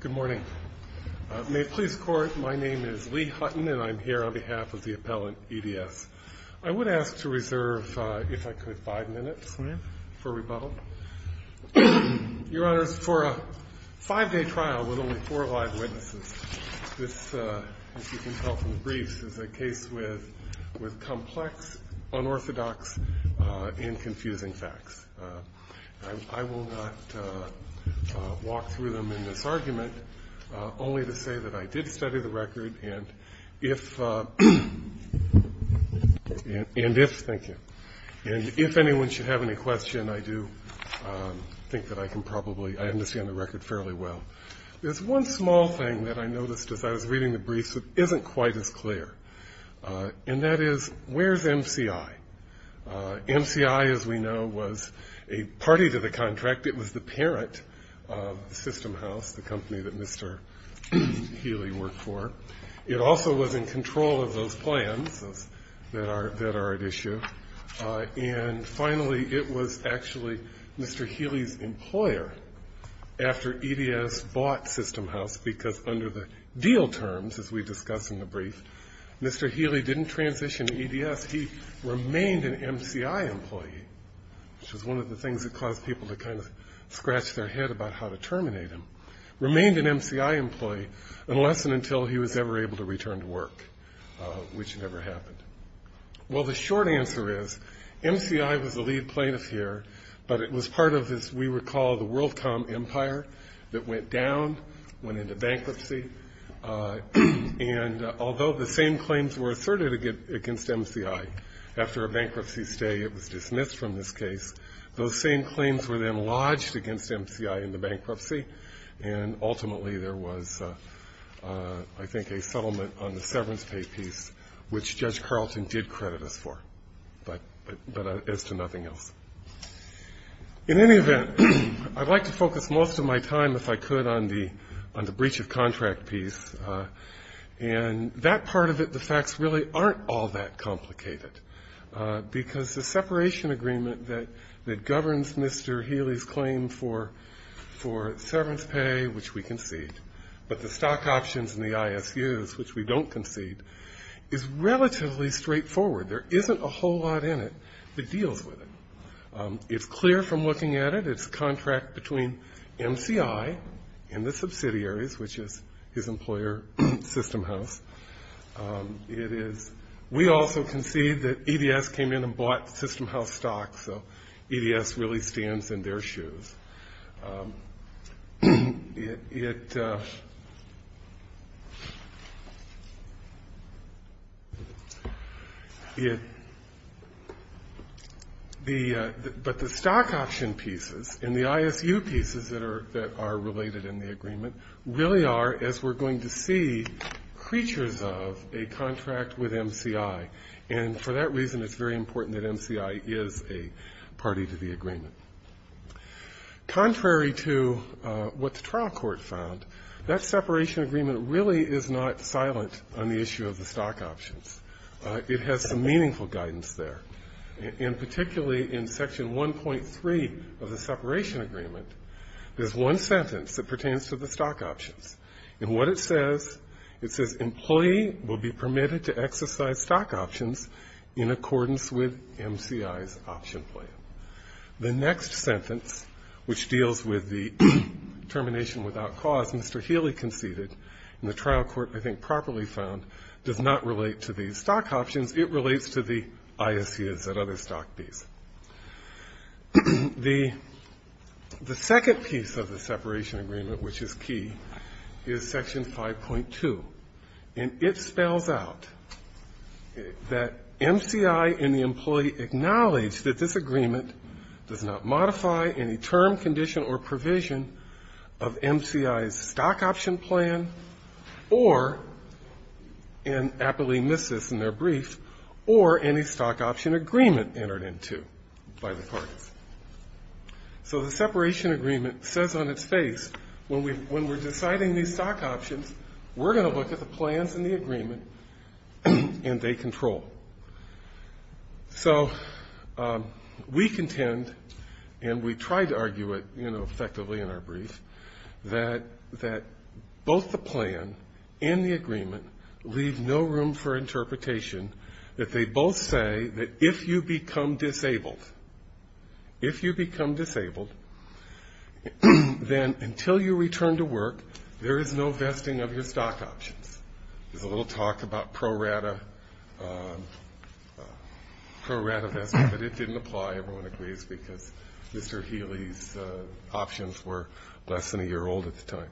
Good morning. May it please the court, my name is Lee Hutton and I'm here on behalf of the appellant, EDS. I would ask to reserve, if I could, five minutes for rebuttal. Your Honors, for a five-day trial with only four live witnesses, this, as you can tell from the briefs, is a case with complex, unorthodox, and confusing facts. I will not walk through them in this argument, only to say that I did study the record, and if anyone should have any question, I do think that I can probably, I understand the record fairly well. There's one small thing that I noticed as I was reading the briefs that isn't quite as clear, and that is, where's MCI? MCI, as we know, was a party to the contract. It was the parent of System House, the company that Mr. Healy worked for. It also was in control of those plans that are at issue. And finally, it was actually Mr. Healy's employer after EDS bought System House, because under the deal terms, as we discussed in the brief, Mr. Healy didn't transition to EDS. He remained an MCI employee, which was one of the things that caused people to kind of scratch their head about how to terminate him. Remained an MCI employee unless and until he was ever able to return to work, which never happened. Well, the short answer is, MCI was the lead plaintiff here, but it was part of, as we recall, the WorldCom empire that went down, went into bankruptcy, and although the same claims were asserted against MCI after a bankruptcy stay, it was dismissed from this case, those same claims were then lodged against MCI into bankruptcy, and ultimately there was, I think, a settlement on the severance pay piece, which Judge Carlton did credit us for, but as to nothing else. In any event, I'd like to focus most of my time, if I could, on the breach of contract piece, and that part of it, the facts really aren't all that complicated, because the separation agreement that governs Mr. Healy's claim for severance pay, which we concede, but the stock options and the ISUs, which we don't concede, is relatively straightforward. There isn't a whole lot in it that deals with it. It's clear from looking at it, it's a contract between MCI and the subsidiaries, which is his employer, SystemHouse. We also concede that EDS came in and bought SystemHouse stocks, so EDS really stands in their shoes. But the stock option pieces and the ISU pieces that are related in the agreement really are, as we're going to see, creatures of a contract with MCI, and for that reason, it's very important that MCI is a party to the agreement. Contrary to what the trial court found, that separation agreement really is not silent on the issue of the stock options. It has some meaningful guidance there, and particularly in section 1.3 of the separation agreement, there's one sentence that pertains to the stock options, and what it says, it says, The next sentence, which deals with the termination without cause, Mr. Healy conceded, and the trial court, I think, properly found, does not relate to the stock options. It relates to the ISUs and other stock piece. The second piece of the separation agreement, which is key, is section 5.2, and it spells out that MCI and the employee acknowledge that this agreement does not modify any term, condition, or provision of MCI's stock option plan, or, and aptly missed this in their brief, or any stock option agreement entered into. So the separation agreement says on its face, when we're deciding these stock options, we're going to look at the plans and the agreement, and they control. So we contend, and we tried to argue it, you know, effectively in our brief, that both the plan and the agreement leave no room for interpretation. That they both say that if you become disabled, if you become disabled, then until you return to work, there is no vesting of your stock options. There's a little talk about pro rata, pro rata vesting, but it didn't apply, everyone agrees, because Mr. Healy's options were less than a year old at the time.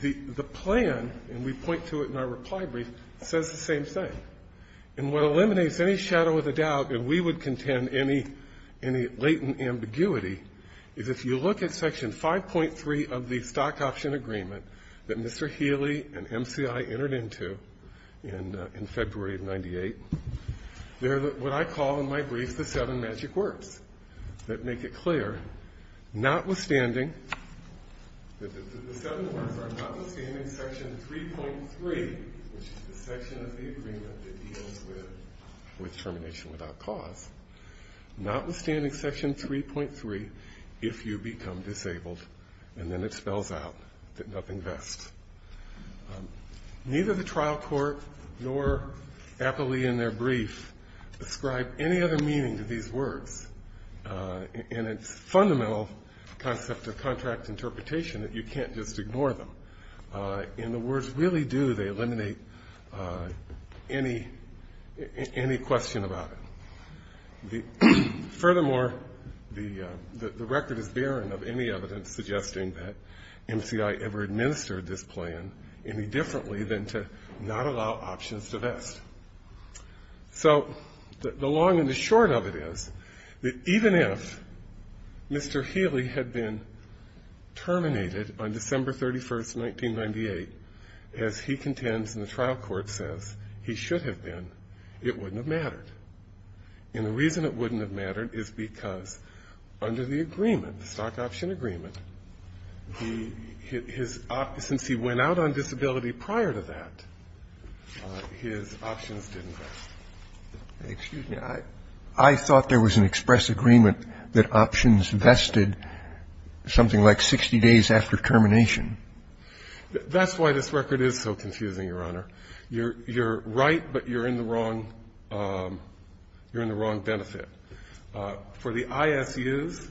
The plan, and we point to it in our reply brief, says the same thing. And what eliminates any shadow of a doubt that we would contend any latent ambiguity, is if you look at section 5.3 of the stock option agreement that Mr. Healy and MCI entered into in February of 98, there are what I call in my brief the seven magic words that make it clear, notwithstanding, the seven words are notwithstanding section 3.3, which is the section of the agreement that deals with termination without cause, notwithstanding section 3.3, if you become disabled, and then it spells out that nothing vests. Neither the trial court nor Appley in their brief describe any other meaning to these words. And it's fundamental concept of contract interpretation that you can't just ignore them. In the words really do, they eliminate any question about it. Furthermore, the record is barren of any evidence suggesting that MCI ever administered this plan any differently than to not allow options to vest. So the long and the short of it is that even if Mr. Healy had been terminated on December 31st, 1998, as he contends in the trial court says he should have been, it wouldn't have mattered. And the reason it wouldn't have mattered is because under the agreement, the stock option agreement, since he went out on disability prior to that, his options didn't vest. Excuse me. I thought there was an express agreement that options vested something like 60 days after termination. That's why this record is so confusing, Your Honor. You're right, but you're in the wrong benefit. For the ISUs,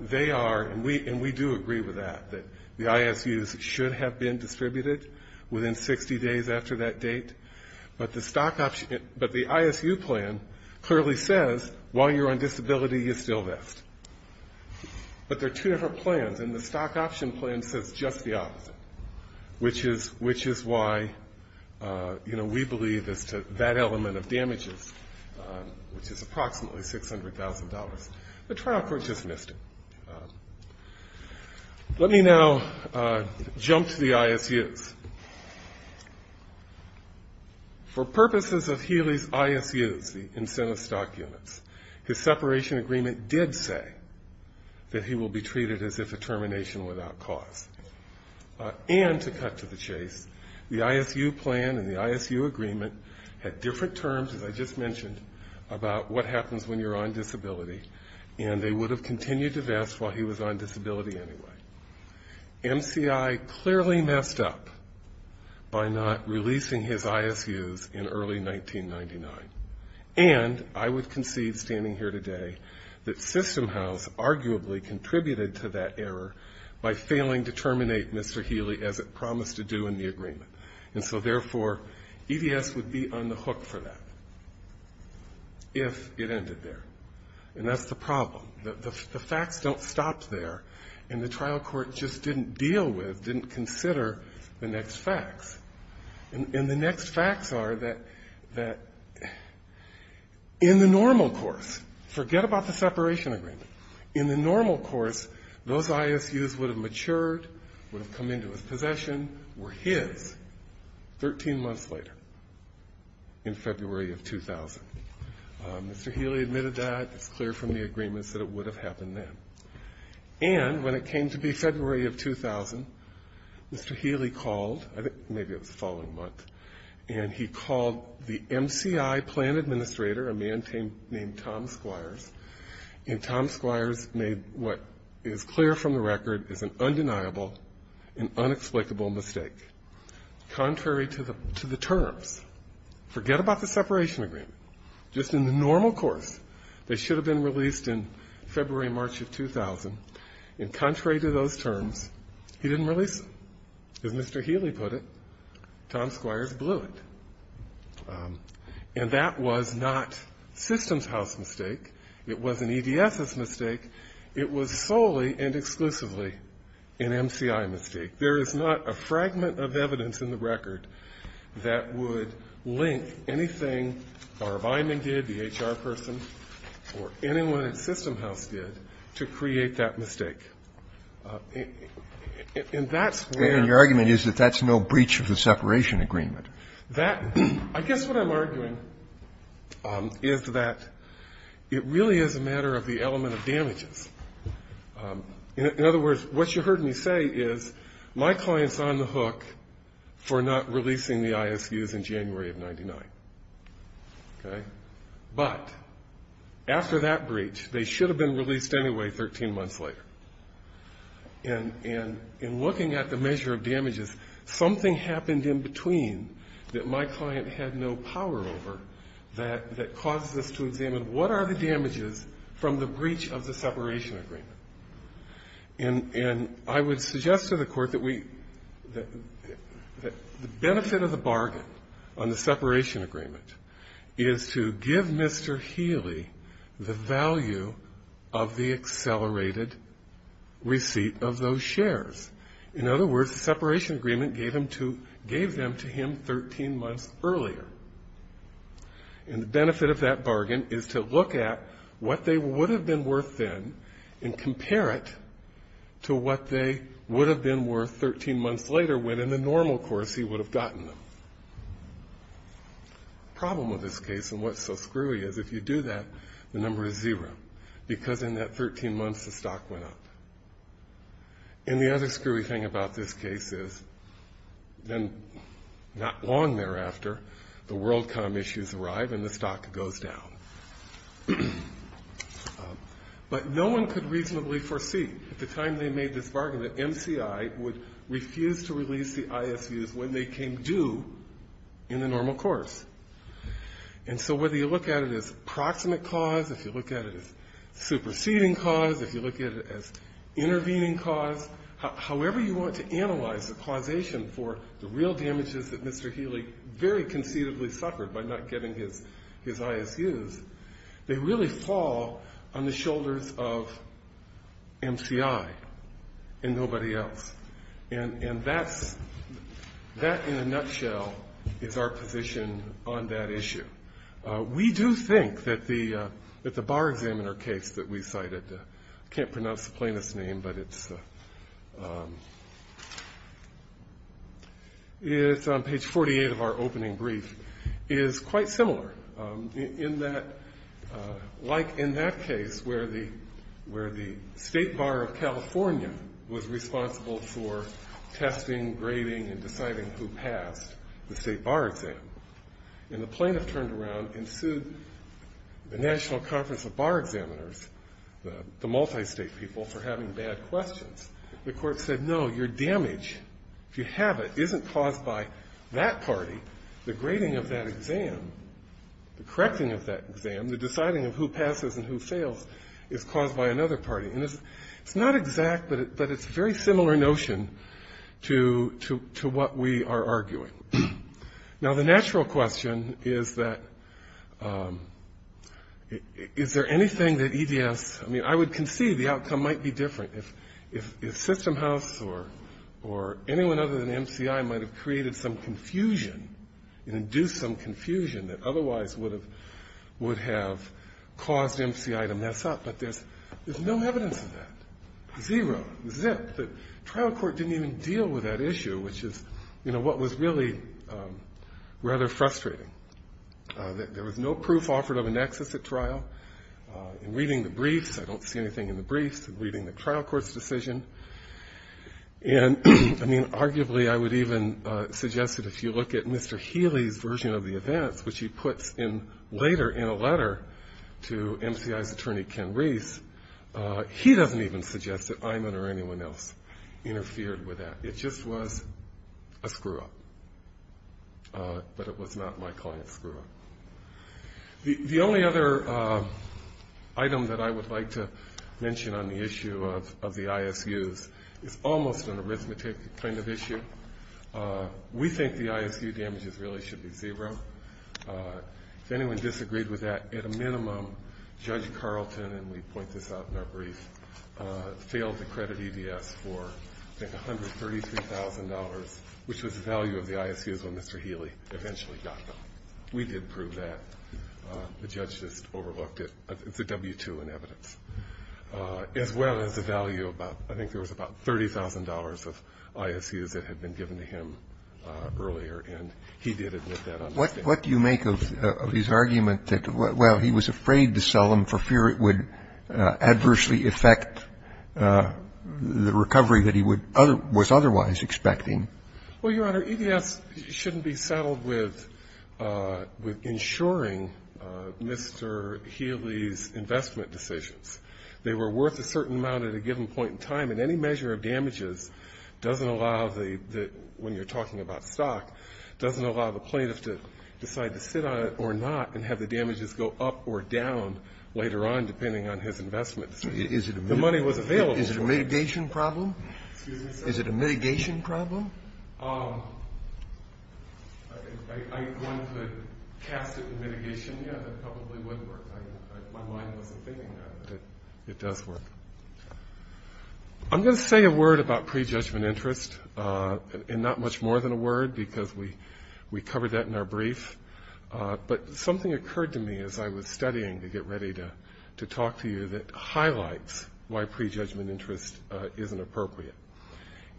they are, and we do agree with that, that the ISUs should have been distributed within 60 days after that date. But the stock option, but the ISU plan clearly says while you're on disability, you still vest. But there are two different plans, and the stock option plan says just the opposite, which is why, you know, we believe as to that element of damages, which is approximately $600,000. The trial court just missed it. Let me now jump to the ISUs. For purposes of Healy's ISUs, the incentive stock units, his separation agreement did say that he will be treated as if a termination without cause. And to cut to the chase, the ISU plan and the ISU agreement had different terms, as I just mentioned, about what happens when you're on disability, and they would have continued to vest while he was on disability anyway. MCI clearly messed up by not releasing his ISUs in early 1999. And I would concede, standing here today, that System House arguably contributed to that error by failing to terminate Mr. Healy as it promised to do in the agreement. And so, therefore, EDS would be on the hook for that if it ended there. And that's the problem. The facts don't stop there, and the trial court just didn't deal with, didn't consider the next facts. And the next facts are that in the normal course, forget about the separation agreement, in the normal course, those ISUs would have matured, would have come into his possession, were his. Thirteen months later, in February of 2000, Mr. Healy admitted that. It's clear from the agreements that it would have happened then. And when it came to be February of 2000, Mr. Healy called, I think maybe it was the following month, and he called the MCI plan administrator, a man named Tom Squires, and Tom Squires made what is clear from the record is an undeniable and unexplainable mistake. Contrary to the terms, forget about the separation agreement. Just in the normal course, they should have been released in February, March of 2000. And contrary to those terms, he didn't release them. As Mr. Healy put it, Tom Squires blew it. And that was not System House's mistake. It wasn't EDS's mistake. It was solely and exclusively an MCI mistake. There is not a fragment of evidence in the record that Mr. Healy was responsible for that. And that's where the argument is that that's no breach of the separation agreement. I guess what I'm arguing is that it really is a matter of the element of damages. In other words, what you heard me say is my client's on the hook for an undeniable and unexplainable mistake. And that's what I'm arguing. he ISUs in January of 99. Okay? But after that breach they should have been released anyway 13 months later. And in looking at the measure of damages, something happened in between that my client had no power over that causes us to examine what are the damages from the breach of the separation agreement? And I would suggest to the court that the damage of this service would be freed The benefit of the bargain on the separation agreement is to give Mr. Healy the value of the accelerated receipt of those shares. In other words, the separation agreement gave them to him 13 months earlier. And the benefit of that bargain is to look at what they would have been worth then and compare it to what they would have been worth 13 months later when in the normal course he would have gotten them. The problem with this case and what's so screwy is if you do that, the number is zero because in that 13 months the stock went up. And the other screwy thing about this case is then not long thereafter the WorldCom issues arrive and the stock goes down. But no one could reasonably foresee at the time they made this bargain that MCI would refuse to release the ISUs when they came due in the normal course. And so whether you look at it as proximate cause, if you look at it as superseding cause, if you look at it as intervening cause, however you want to analyze the causation for the real damages that Mr. Healy very conceivably suffered by not getting his ISUs, they really fall on the shoulders of MCI and nobody else. And that in a nutshell is our position on that issue. We do think that the bar examiner case that we cited, I can't pronounce the plaintiff's name, but it's on page 48 of our opening brief, is quite similar in that like in that case where the State Bar of California was responsible for testing, grading, and deciding who passed the State Bar exam. And the plaintiff turned around and sued the National Conference of Bar Examiners, the multi-state people, for having bad questions. The court said, no, your damage, if you have it, isn't caused by that party. The grading of that exam, the correcting of that exam, the deciding of who passes and who fails is caused by another party. And it's not exact, but it's a very similar notion to what we are arguing. Now, the natural question is that is there anything that EDS, I mean, I would concede the outcome might be different. If System House or anyone other than MCI might have created some confusion and induced some confusion that otherwise would have caused MCI to mess up, but there's no evidence of that. Zero. Zip. The trial court didn't even deal with that issue, which is, you know, what was really rather frustrating. There was no proof offered of a nexus at trial. In reading the briefs, I don't see anything in the briefs, reading the trial court's decision. And, I mean, arguably I would even suggest that if you look at Mr. Healy's version of the events, which he puts in later in a letter to MCI's attorney, Ken Reese, he doesn't even suggest that Iman or anyone else interfered with that. It just was a screw-up. But it was not my client's screw-up. The only other item that I would like to mention on the issue of the ISUs is almost an arithmetic kind of issue. We think the ISU damages really should be zero. If anyone disagreed with that, at a minimum, Judge Carlton, and we point this out in our brief, failed to credit EDS for, I think, $133,000, which was the value of the ISUs when Mr. Healy eventually got them. We did prove that. The judge just overlooked it. It's a W-2 in evidence. As well as the value of about, I think there was about $30,000 of ISUs that had been given to him earlier. And he did admit that on his case. Roberts. What do you make of his argument that, well, he was afraid to sell them for fear it would adversely affect the recovery that he was otherwise expecting? Well, Your Honor, EDS shouldn't be saddled with ensuring Mr. Healy's investment decisions. They were worth a certain amount at a given point in time. And any measure of damages doesn't allow the – when you're talking about stock, doesn't allow the plaintiff to decide to sit on it or not and have the damages go up or down later on, depending on his investment. The money was available. Is it a mitigation problem? Excuse me, sir? Is it a mitigation problem? I wanted to cast it in mitigation. Yeah, that probably would work. My mind wasn't thinking that, but it does work. I'm going to say a word about prejudgment interest. And not much more than a word because we covered that in our brief. But something occurred to me as I was studying to get ready to talk to you that highlights why prejudgment interest isn't appropriate.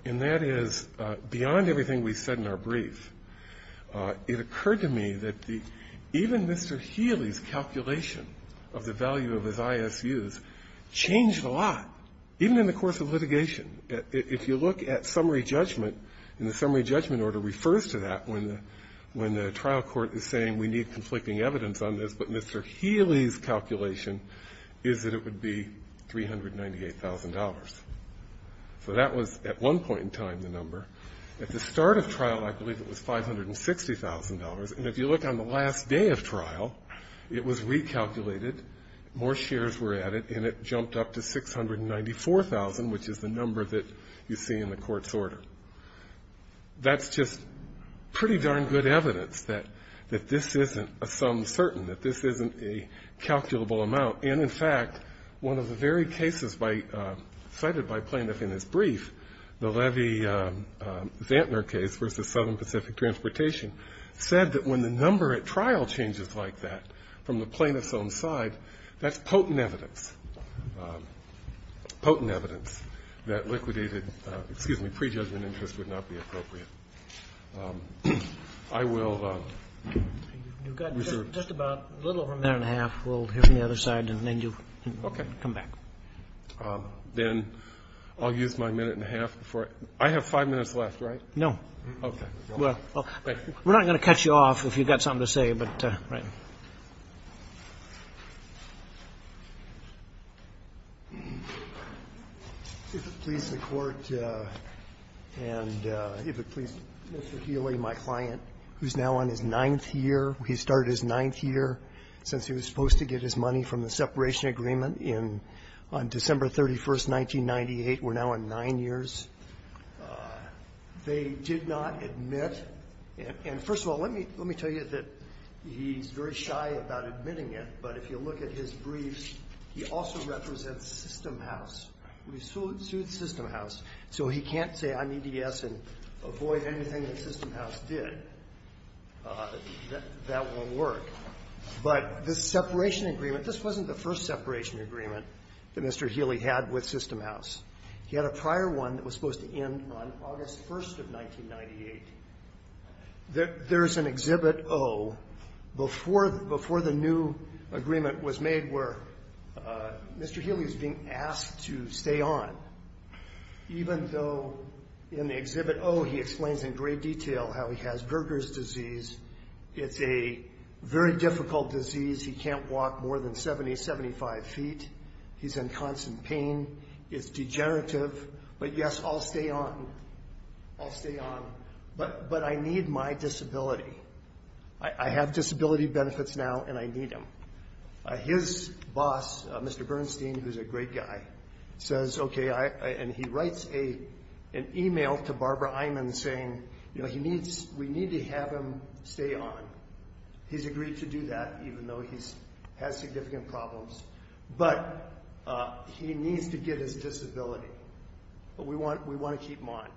And that is, beyond everything we said in our brief, it occurred to me that even Mr. Healy's calculation of the value of his ISUs changed a lot, even in the course of litigation. If you look at summary judgment, and the summary judgment order refers to that when the trial court is saying we need conflicting evidence on this, but Mr. Healy's calculation is that it would be $398,000. So that was, at one point in time, the number. At the start of trial, I believe it was $560,000. And if you look on the last day of trial, it was recalculated, more shares were added, and it jumped up to $694,000, which is the number that you see in the court's order. That's just pretty darn good evidence that this isn't a sum certain, that this isn't a calculable amount. And, in fact, one of the very cases cited by plaintiff in his brief, the Levy-Zantner case versus Southern Pacific Transportation, said that when the number at trial changes like that from the plaintiff's own side, that's potent evidence, potent evidence that liquidated, excuse me, prejudgment interest would not be appropriate. I will reserve. Just about a little over a minute and a half. We'll hear from the other side, and then you can come back. Okay. Then I'll use my minute and a half before I go. I have five minutes left, right? No. Okay. Well, we're not going to cut you off if you've got something to say, but right. If it please the Court, and if it please Mr. Healy, my client, who's now on his ninth year. He started his ninth year since he was supposed to get his money from the separation agreement on December 31st, 1998. We're now on nine years. They did not admit. And, first of all, let me tell you that he's very shy about admitting it, but if you look at his briefs, he also represents System House. He sued System House. So he can't say I need to yes and avoid anything that System House did. That won't work. But this separation agreement, this wasn't the first separation agreement that Mr. Healy had with System House. He had a prior one that was supposed to end on August 1st of 1998. There's an Exhibit O before the new agreement was made where Mr. Healy was being asked to stay on, even though in the Exhibit O he explains in great detail how he has Verger's disease. It's a very difficult disease. He can't walk more than 70, 75 feet. He's in constant pain. It's degenerative, but yes, I'll stay on. I'll stay on, but I need my disability. I have disability benefits now, and I need them. His boss, Mr. Bernstein, who's a great guy, says, okay, and he writes an email to Barbara Eyman saying, you know, we need to have him stay on. He's agreed to do that even though he has significant problems, but he needs to get his disability. But we want to keep him on.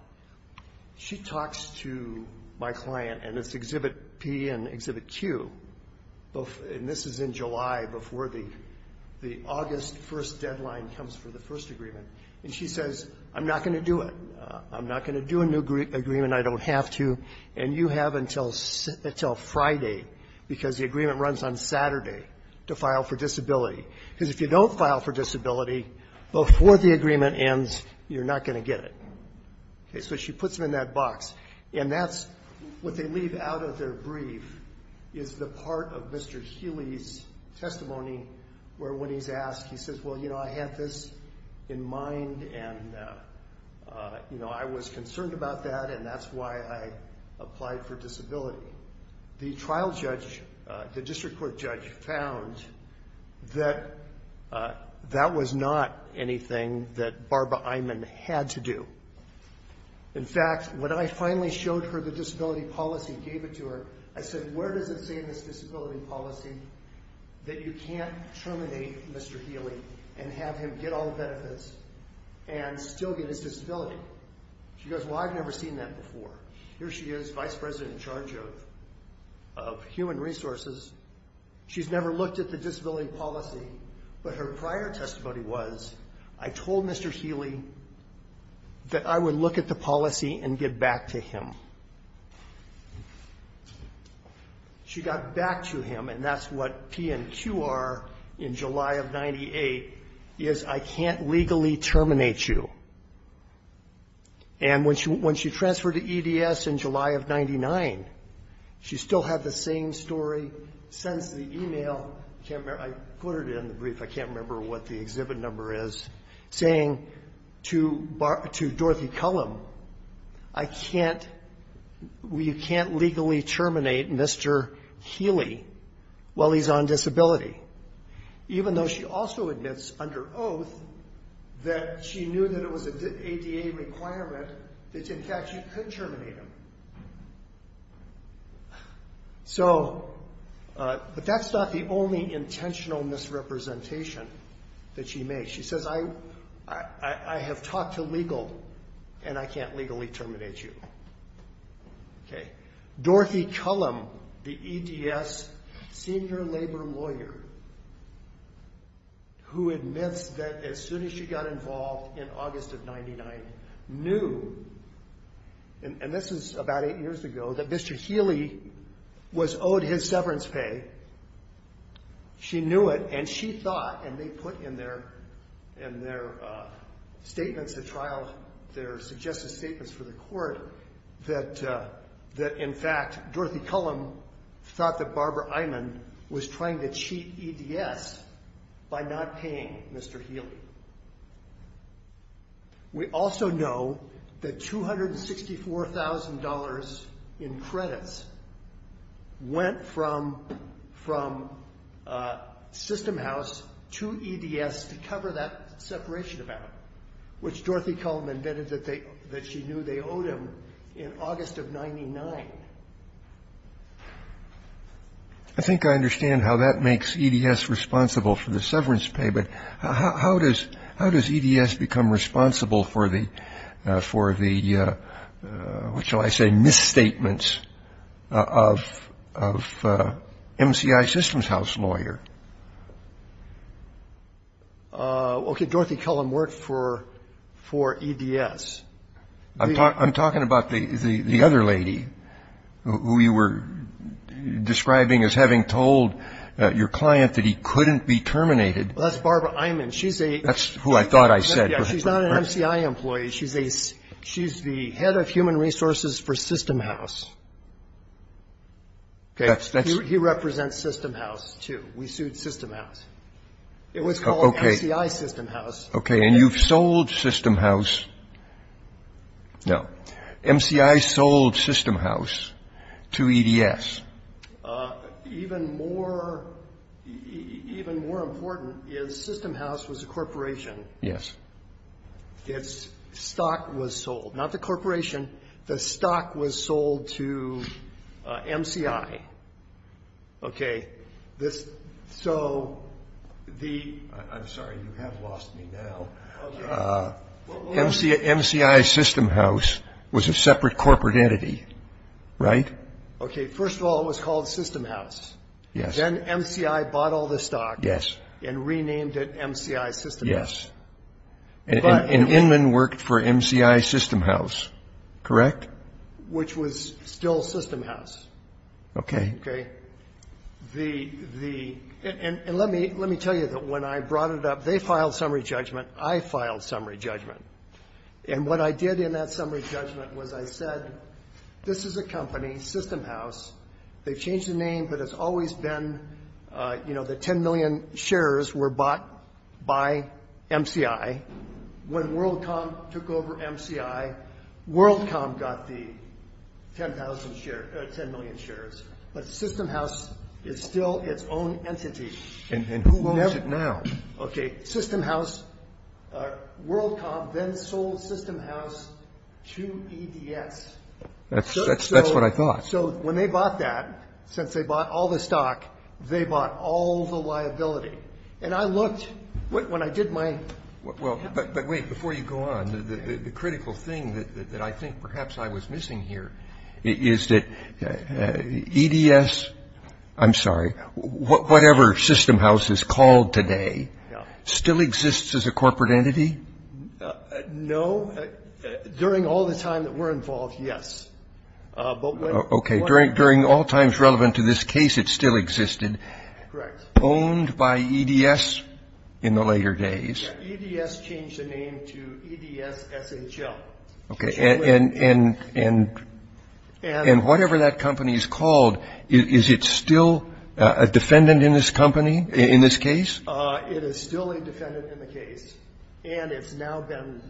She talks to my client, and it's Exhibit P and Exhibit Q, and this is in July before the August 1st deadline comes for the first agreement. And she says, I'm not going to do it. I'm not going to do a new agreement. I don't have to. And you have until Friday because the agreement runs on Saturday to file for disability. Because if you don't file for disability before the agreement ends, you're not going to get it. So she puts them in that box. And that's what they leave out of their brief is the part of Mr. Healy's testimony where when he's asked, he says, well, you know, I have this in mind, and, you know, I was concerned about that, and that's why I applied for disability. So the trial judge, the district court judge, found that that was not anything that Barbara Eymann had to do. In fact, when I finally showed her the disability policy and gave it to her, I said, where does it say in this disability policy that you can't terminate Mr. Healy and have him get all the benefits and still get his disability? She goes, well, I've never seen that before. Here she is, vice president in charge of human resources. She's never looked at the disability policy, but her prior testimony was, I told Mr. Healy that I would look at the policy and get back to him. She got back to him, and that's what P and Q are in July of 98, is I can't legally terminate you. And when she transferred to EDS in July of 99, she still had the same story, sends the email, I put it in the brief, I can't remember what the exhibit number is, saying to Dorothy Cullum, I can't, you can't legally terminate Mr. Healy while he's on disability, even though she also admits under oath that she knew that it was an ADA requirement that, in fact, she couldn't terminate him. But that's not the only intentional misrepresentation that she made. She says, I have talked to legal, and I can't legally terminate you. Okay. Dorothy Cullum, the EDS senior labor lawyer, who admits that as soon as she got involved in August of 99, knew, and this is about eight years ago, that Mr. Healy was owed his severance pay. She knew it, and she thought, and they put in their statements, their trial, their suggested statements for the court, that, in fact, Dorothy Cullum thought that Barbara Eyman was trying to cheat EDS by not paying Mr. Healy. We also know that $264,000 in credits went from system house to EDS to cover that separation amount, which Dorothy Cullum admitted that she knew they owed him in August of 99. I think I understand how that makes EDS responsible for the severance pay, but how does EDS become responsible for the, what shall I say, misstatements of MCI systems house lawyer? Okay. Dorothy Cullum worked for EDS. I'm talking about the other lady who you were describing as having told your client that he couldn't be terminated. That's Barbara Eyman. That's who I thought I said. She's not an MCI employee. She's the head of human resources for system house. He represents system house, too. We sued system house. It was called MCI system house. Okay. And you've sold system house. No. MCI sold system house to EDS. Even more important is system house was a corporation. Yes. Its stock was sold. Not the corporation. The stock was sold to MCI. Okay. So the, I'm sorry. You have lost me now. Okay. MCI system house was a separate corporate entity, right? Okay. First of all, it was called system house. Yes. Then MCI bought all the stock. Yes. And renamed it MCI system house. And Inman worked for MCI system house, correct? Which was still system house. Okay. Okay. The, and let me tell you that when I brought it up, they filed summary judgment. I filed summary judgment. And what I did in that summary judgment was I said, this is a company, system house. They've changed the name, but it's always been, you know, the 10 million shares were bought by MCI. When WorldCom took over MCI, WorldCom got the 10 million shares. But system house is still its own entity. And who owns it now? Okay. System house, WorldCom then sold system house to EDS. That's what I thought. So when they bought that, since they bought all the stock, they bought all the liability. And I looked, when I did my. But wait, before you go on, the critical thing that I think perhaps I was missing here is that EDS, I'm sorry, whatever system house is called today, still exists as a corporate entity? No. During all the time that we're involved, yes. Okay. During all times relevant to this case, it still existed. Correct. Owned by EDS in the later days. EDS changed the name to EDS SHL. Okay. And whatever that company is called, is it still a defendant in this company, in this case? It is still a defendant in the case. And it's now been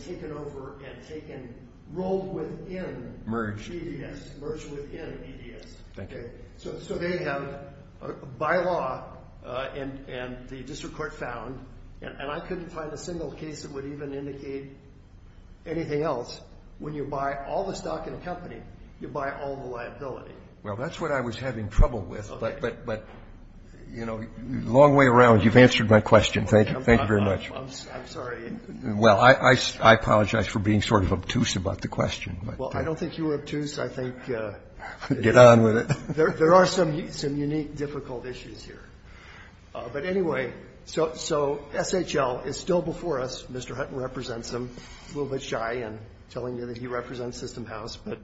taken over and taken, rolled within EDS. Merged. Merged within EDS. Okay. So they have, by law, and the district court found, and I couldn't find a single case that would even indicate anything else, when you buy all the stock in a company, you buy all the liability. Well, that's what I was having trouble with. But, you know, long way around. You've answered my question. Thank you very much. I'm sorry. Well, I apologize for being sort of obtuse about the question. Well, I don't think you were obtuse. I think there are some unique, difficult issues here. But, anyway, so SHL is still before us. Mr. Hutton represents them. A little bit shy in telling me that he represents System House. But,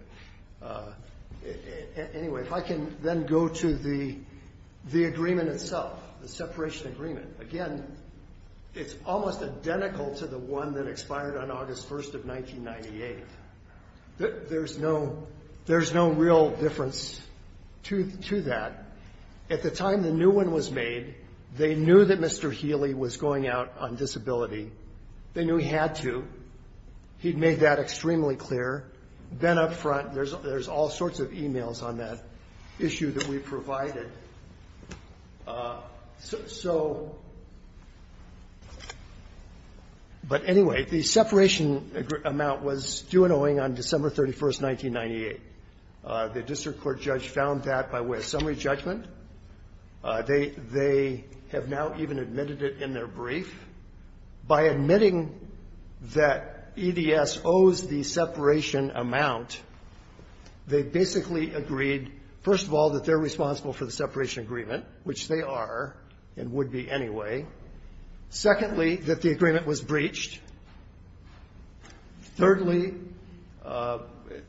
anyway, if I can then go to the agreement itself, the separation agreement. Again, it's almost identical to the one that expired on August 1st of 1998. There's no real difference to that. At the time the new one was made, they knew that Mr. Healy was going out on disability. They knew he had to. He'd made that extremely clear. Then up front, there's all sorts of emails on that issue that we provided. So anyway, the separation amount was due and owing on December 31st, 1998. The district court judge found that by way of summary judgment. They have now even admitted it in their brief. By admitting that EDS owes the separation amount, they basically agreed, first of all, that they're responsible for the separation agreement, which they are and would be anyway. Secondly, that the agreement was breached. Thirdly,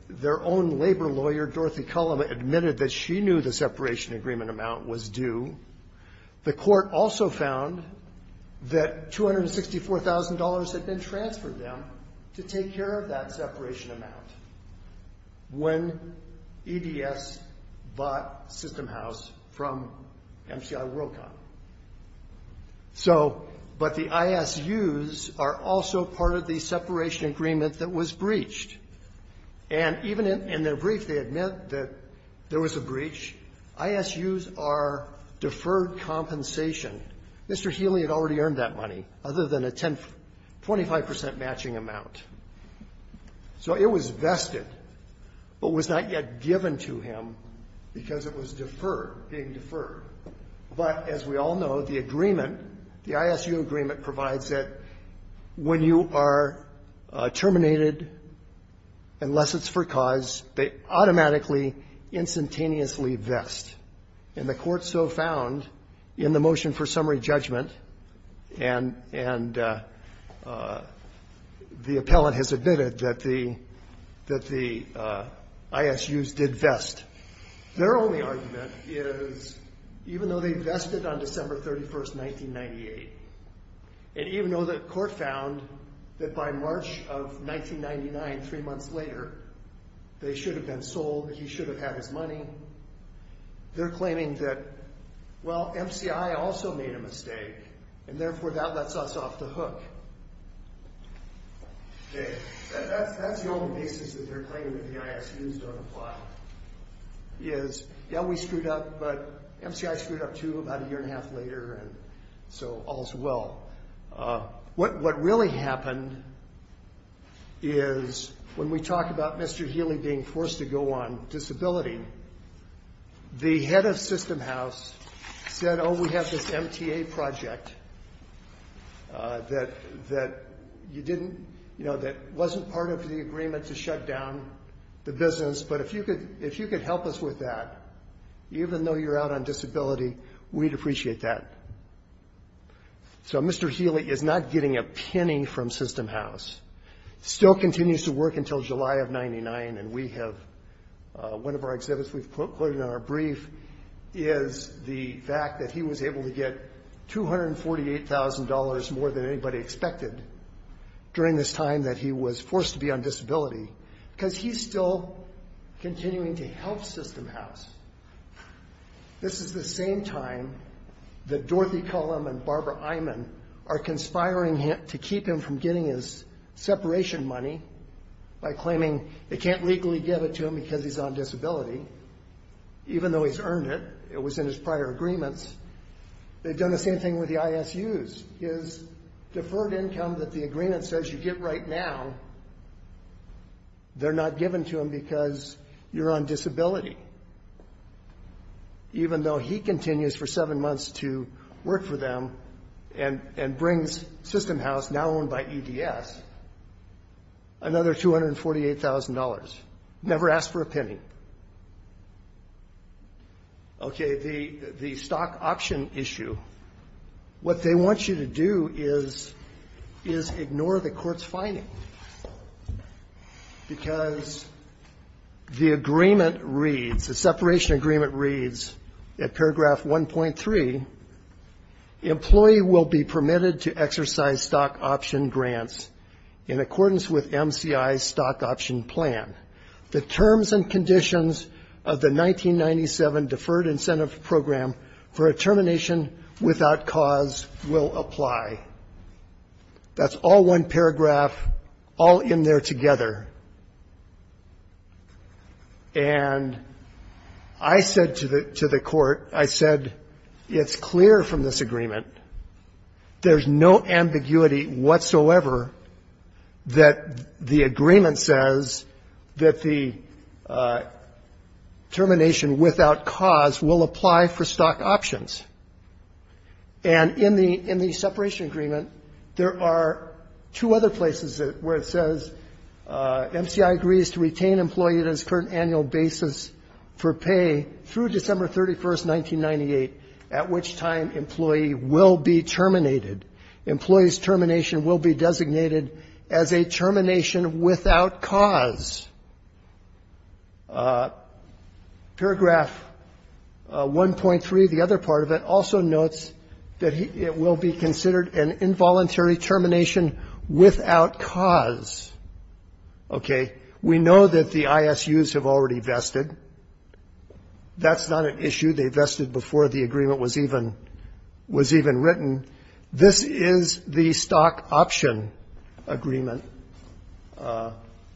their own labor lawyer, Dorothy Cullum, admitted that she knew the separation agreement amount was due. The court also found that $264,000 had been transferred to them to take care of that separation amount. When EDS bought System House from MCI Worldcom. But the ISUs are also part of the separation agreement that was breached. Even in their brief, they admit that there was a breach. ISUs are deferred compensation. Mr. Healy had already earned that money, other than a 25% matching amount. So it was vested, but was not yet given to him because it was deferred, being deferred. But as we all know, the agreement, the ISU agreement provides that when you are terminated, unless it's for cause, they automatically, instantaneously vest. And the court so found in the motion for summary judgment, and the appellant has admitted that the ISUs did vest. Their only argument is, even though they vested on December 31st, 1998, and even though the court found that by March of 1999, three months later, they should have been sold, he should have had his money. They're claiming that, well, MCI also made a mistake, and therefore that lets us off the hook. That's the only basis that they're claiming that the ISUs don't apply. Is, yeah, we screwed up, but MCI screwed up too about a year and a half later, and so all's well. What really happened is, when we talk about Mr. Healy being forced to go on disability, the head of System House said, oh, we have this MTA project that you didn't, you know, that wasn't part of the agreement to shut down the business, but if you could help us with that, even though you're out on disability, we'd appreciate that. So Mr. Healy is not getting a penny from System House. Still continues to work until July of 1999, and we have, one of our exhibits we've quoted in our brief is the fact that he was able to get $248,000 more than anybody expected during this time that he was forced to be on disability, because he's still continuing to help System House. This is the same time that Dorothy Cullum and Barbara Eyman are conspiring to keep him from getting his separation money by claiming they can't legally give it to him because he's on disability, even though he's earned it. It was in his prior agreements. They've done the same thing with the ISUs. His deferred income that the agreement says you get right now, they're not giving to him because you're on disability, even though he continues for seven months to work for them and brings System House, now owned by EDS, another $248,000. Never asked for a penny. Okay, the stock option issue. What they want you to do is ignore the court's finding, because the agreement reads, the separation agreement reads at paragraph 1.3, employee will be permitted to exercise stock option grants in accordance with MCI's stock option plan. The terms and conditions of the 1997 Deferred Incentive Program for a termination without cause will apply. That's all one paragraph all in there together. And I said to the court, I said, it's clear from this agreement, there's no ambiguity whatsoever that the agreement says that the termination without cause will apply for stock options. And in the separation agreement, there are two other places where it says, MCI agrees to retain employee on his current annual basis for pay through December 31st, 1998, at which time employee will be terminated. Employee's termination will be designated as a termination without cause. Paragraph 1.3, the other part of it, also notes that it will be considered an involuntary termination without cause. Okay. We know that the ISUs have already vested. That's not an issue. They vested before the agreement was even written. This is the stock option agreement,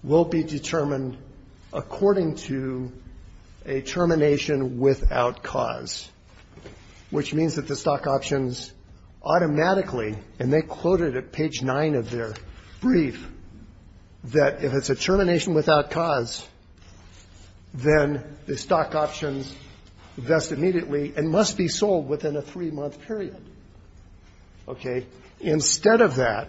will be determined according to a termination without cause, which means that the stock options automatically, and they quoted at page 9 of their brief, that if it's a termination without cause, then the stock options invest immediately and must be sold within a three-month period. Okay. Instead of that,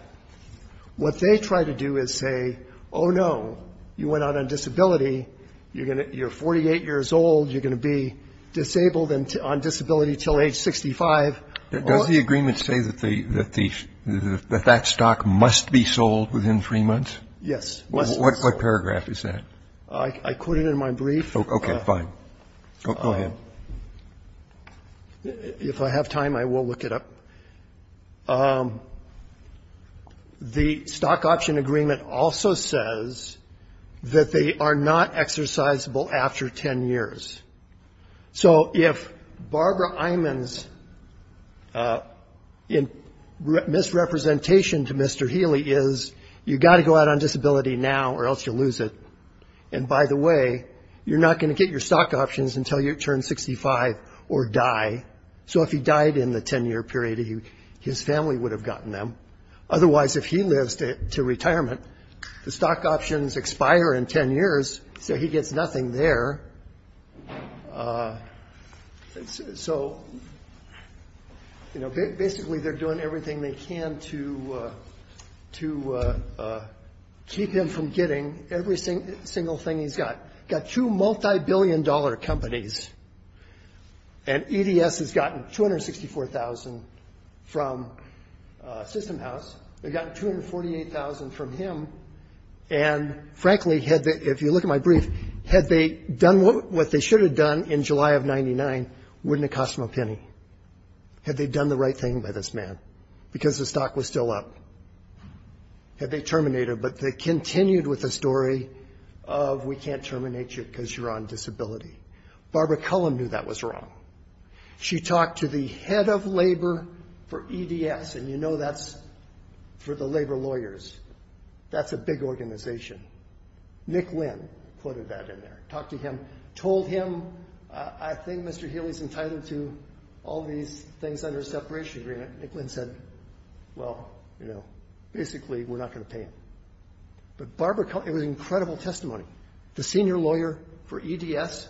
what they try to do is say, oh, no, you went out on disability, you're 48 years old, you're going to be disabled on disability until age 65. Does the agreement say that that stock must be sold within three months? Yes. What paragraph is that? I quoted in my brief. Okay, fine. Go ahead. If I have time, I will look it up. The stock option agreement also says that they are not exercisable after 10 years. So if Barbara Iman's misrepresentation to Mr. Healy is, you've got to go out on disability now or else you'll lose it, and by the way, you're not going to get your stock options until you turn 65 or die. So if he died in the 10-year period, his family would have gotten them. Otherwise, if he lives to retirement, the stock options expire in 10 years, so he gets nothing there. So, you know, basically they're doing everything they can to keep him from getting every single thing he's got. He's got two multibillion-dollar companies, and EDS has gotten $264,000 from System House. They've gotten $248,000 from him. And, frankly, if you look at my brief, had they done what they should have done in July of 99, wouldn't it cost them a penny? Had they done the right thing by this man because the stock was still up? Had they terminated him? But they continued with the story of we can't terminate you because you're on disability. Barbara Cullen knew that was wrong. She talked to the head of labor for EDS, and you know that's for the labor lawyers. That's a big organization. Nick Lynn quoted that in there, talked to him, told him, I think Mr. Healy's entitled to all these things under a separation agreement. Nick Lynn said, well, you know, basically we're not going to pay him. But Barbara Cullen, it was an incredible testimony. The senior lawyer for EDS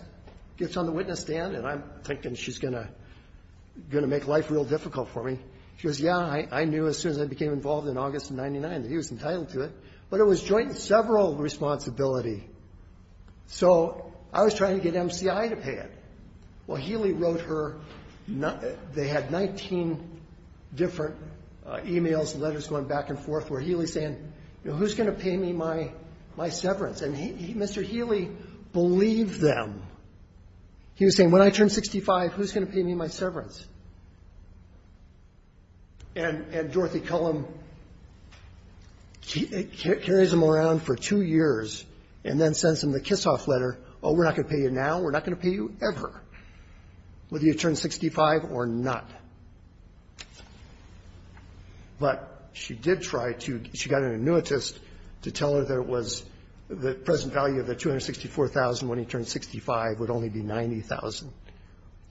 gets on the witness stand, and I'm thinking she's going to make life real difficult for me. She goes, yeah, I knew as soon as I became involved in August of 99 that he was entitled to it. But it was joint and several responsibility. So I was trying to get MCI to pay it. Well, Healy wrote her. They had 19 different emails and letters going back and forth where Healy's saying, who's going to pay me my severance? And Mr. Healy believed them. He was saying, when I turn 65, who's going to pay me my severance? And Dorothy Cullen carries them around for two years and then sends them the Kissoff letter, oh, we're not going to pay you now, we're not going to pay you ever, whether you turn 65 or not. But she did try to, she got an annuitist to tell her that it was, the present value of the $264,000 when he turned 65 would only be $90,000,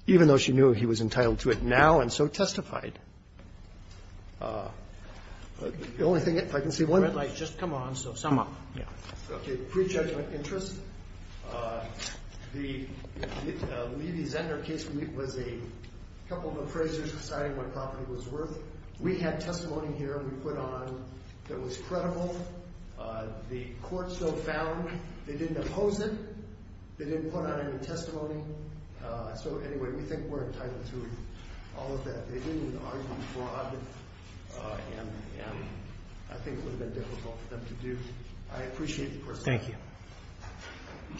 even though she knew he was entitled to it now and so testified. The only thing, if I can see one. Roberts. Just come on, so sum up. Yeah. Prejudgment interest. The Levy-Zender case was a couple of appraisers deciding what property was worth. We had testimony here we put on that was credible. The court still found. They didn't oppose it. They didn't put on any testimony. So anyway, we think we're entitled to all of that. They didn't argue fraud and I think it would have been difficult for them to do. I appreciate the question. Thank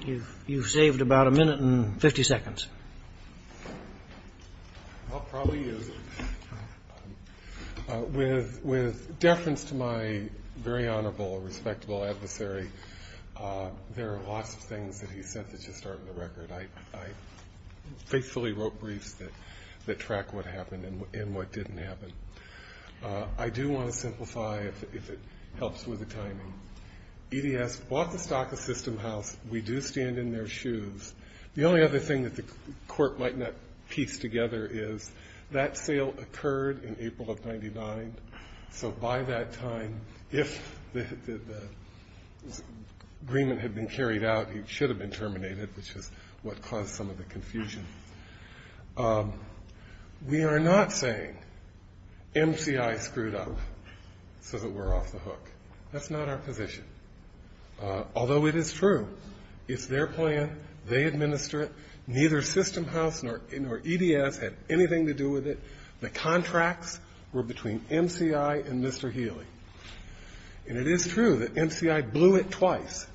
you. You've saved about a minute and 50 seconds. I'll probably use it. With deference to my very honorable, respectable adversary, there are lots of things that he said that just aren't in the record. I faithfully wrote briefs that track what happened and what didn't happen. I do want to simplify, if it helps with the timing. EDS bought the stock of System House. We do stand in their shoes. The only other thing that the court might not piece together is that sale occurred in April of 99. So by that time, if the agreement had been carried out, it should have been terminated, which is what caused some of the confusion. We are not saying MCI screwed up so that we're off the hook. That's not our position. Although it is true, it's their plan. They administer it. Neither System House nor EDS had anything to do with it. The contracts were between MCI and Mr. Healy. And it is true that MCI blew it twice,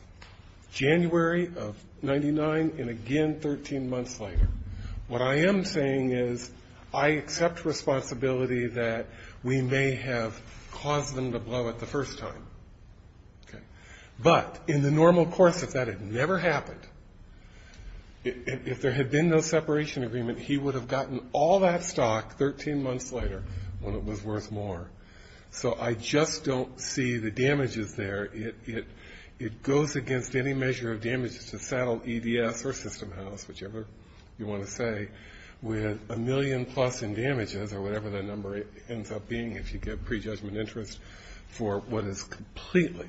January of 99 and again 13 months later. What I am saying is I accept responsibility that we may have caused them to blow it the first time. But in the normal course, if that had never happened, if there had been no separation agreement, he would have gotten all that stock 13 months later when it was worth more. So I just don't see the damages there. It goes against any measure of damages to settle EDS or System House, whichever you want to say, with a million-plus in damages or whatever that number ends up being, if you get prejudgment interest for what is completely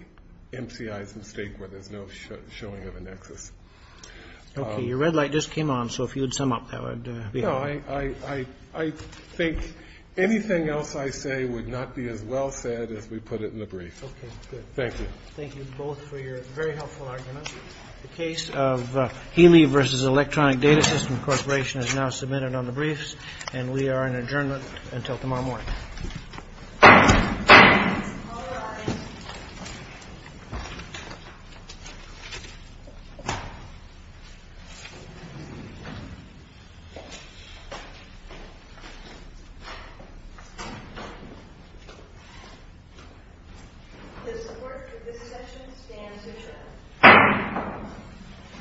MCI's mistake where there's no showing of a nexus. Okay. Your red light just came on, so if you would sum up, that would be helpful. I think anything else I say would not be as well said as we put it in the brief. Okay, good. Thank you. Thank you both for your very helpful argument. The case of Healy v. Electronic Data System Corporation is now submitted on the briefs, and we are in adjournment until tomorrow morning. The support for this session stands adjourned.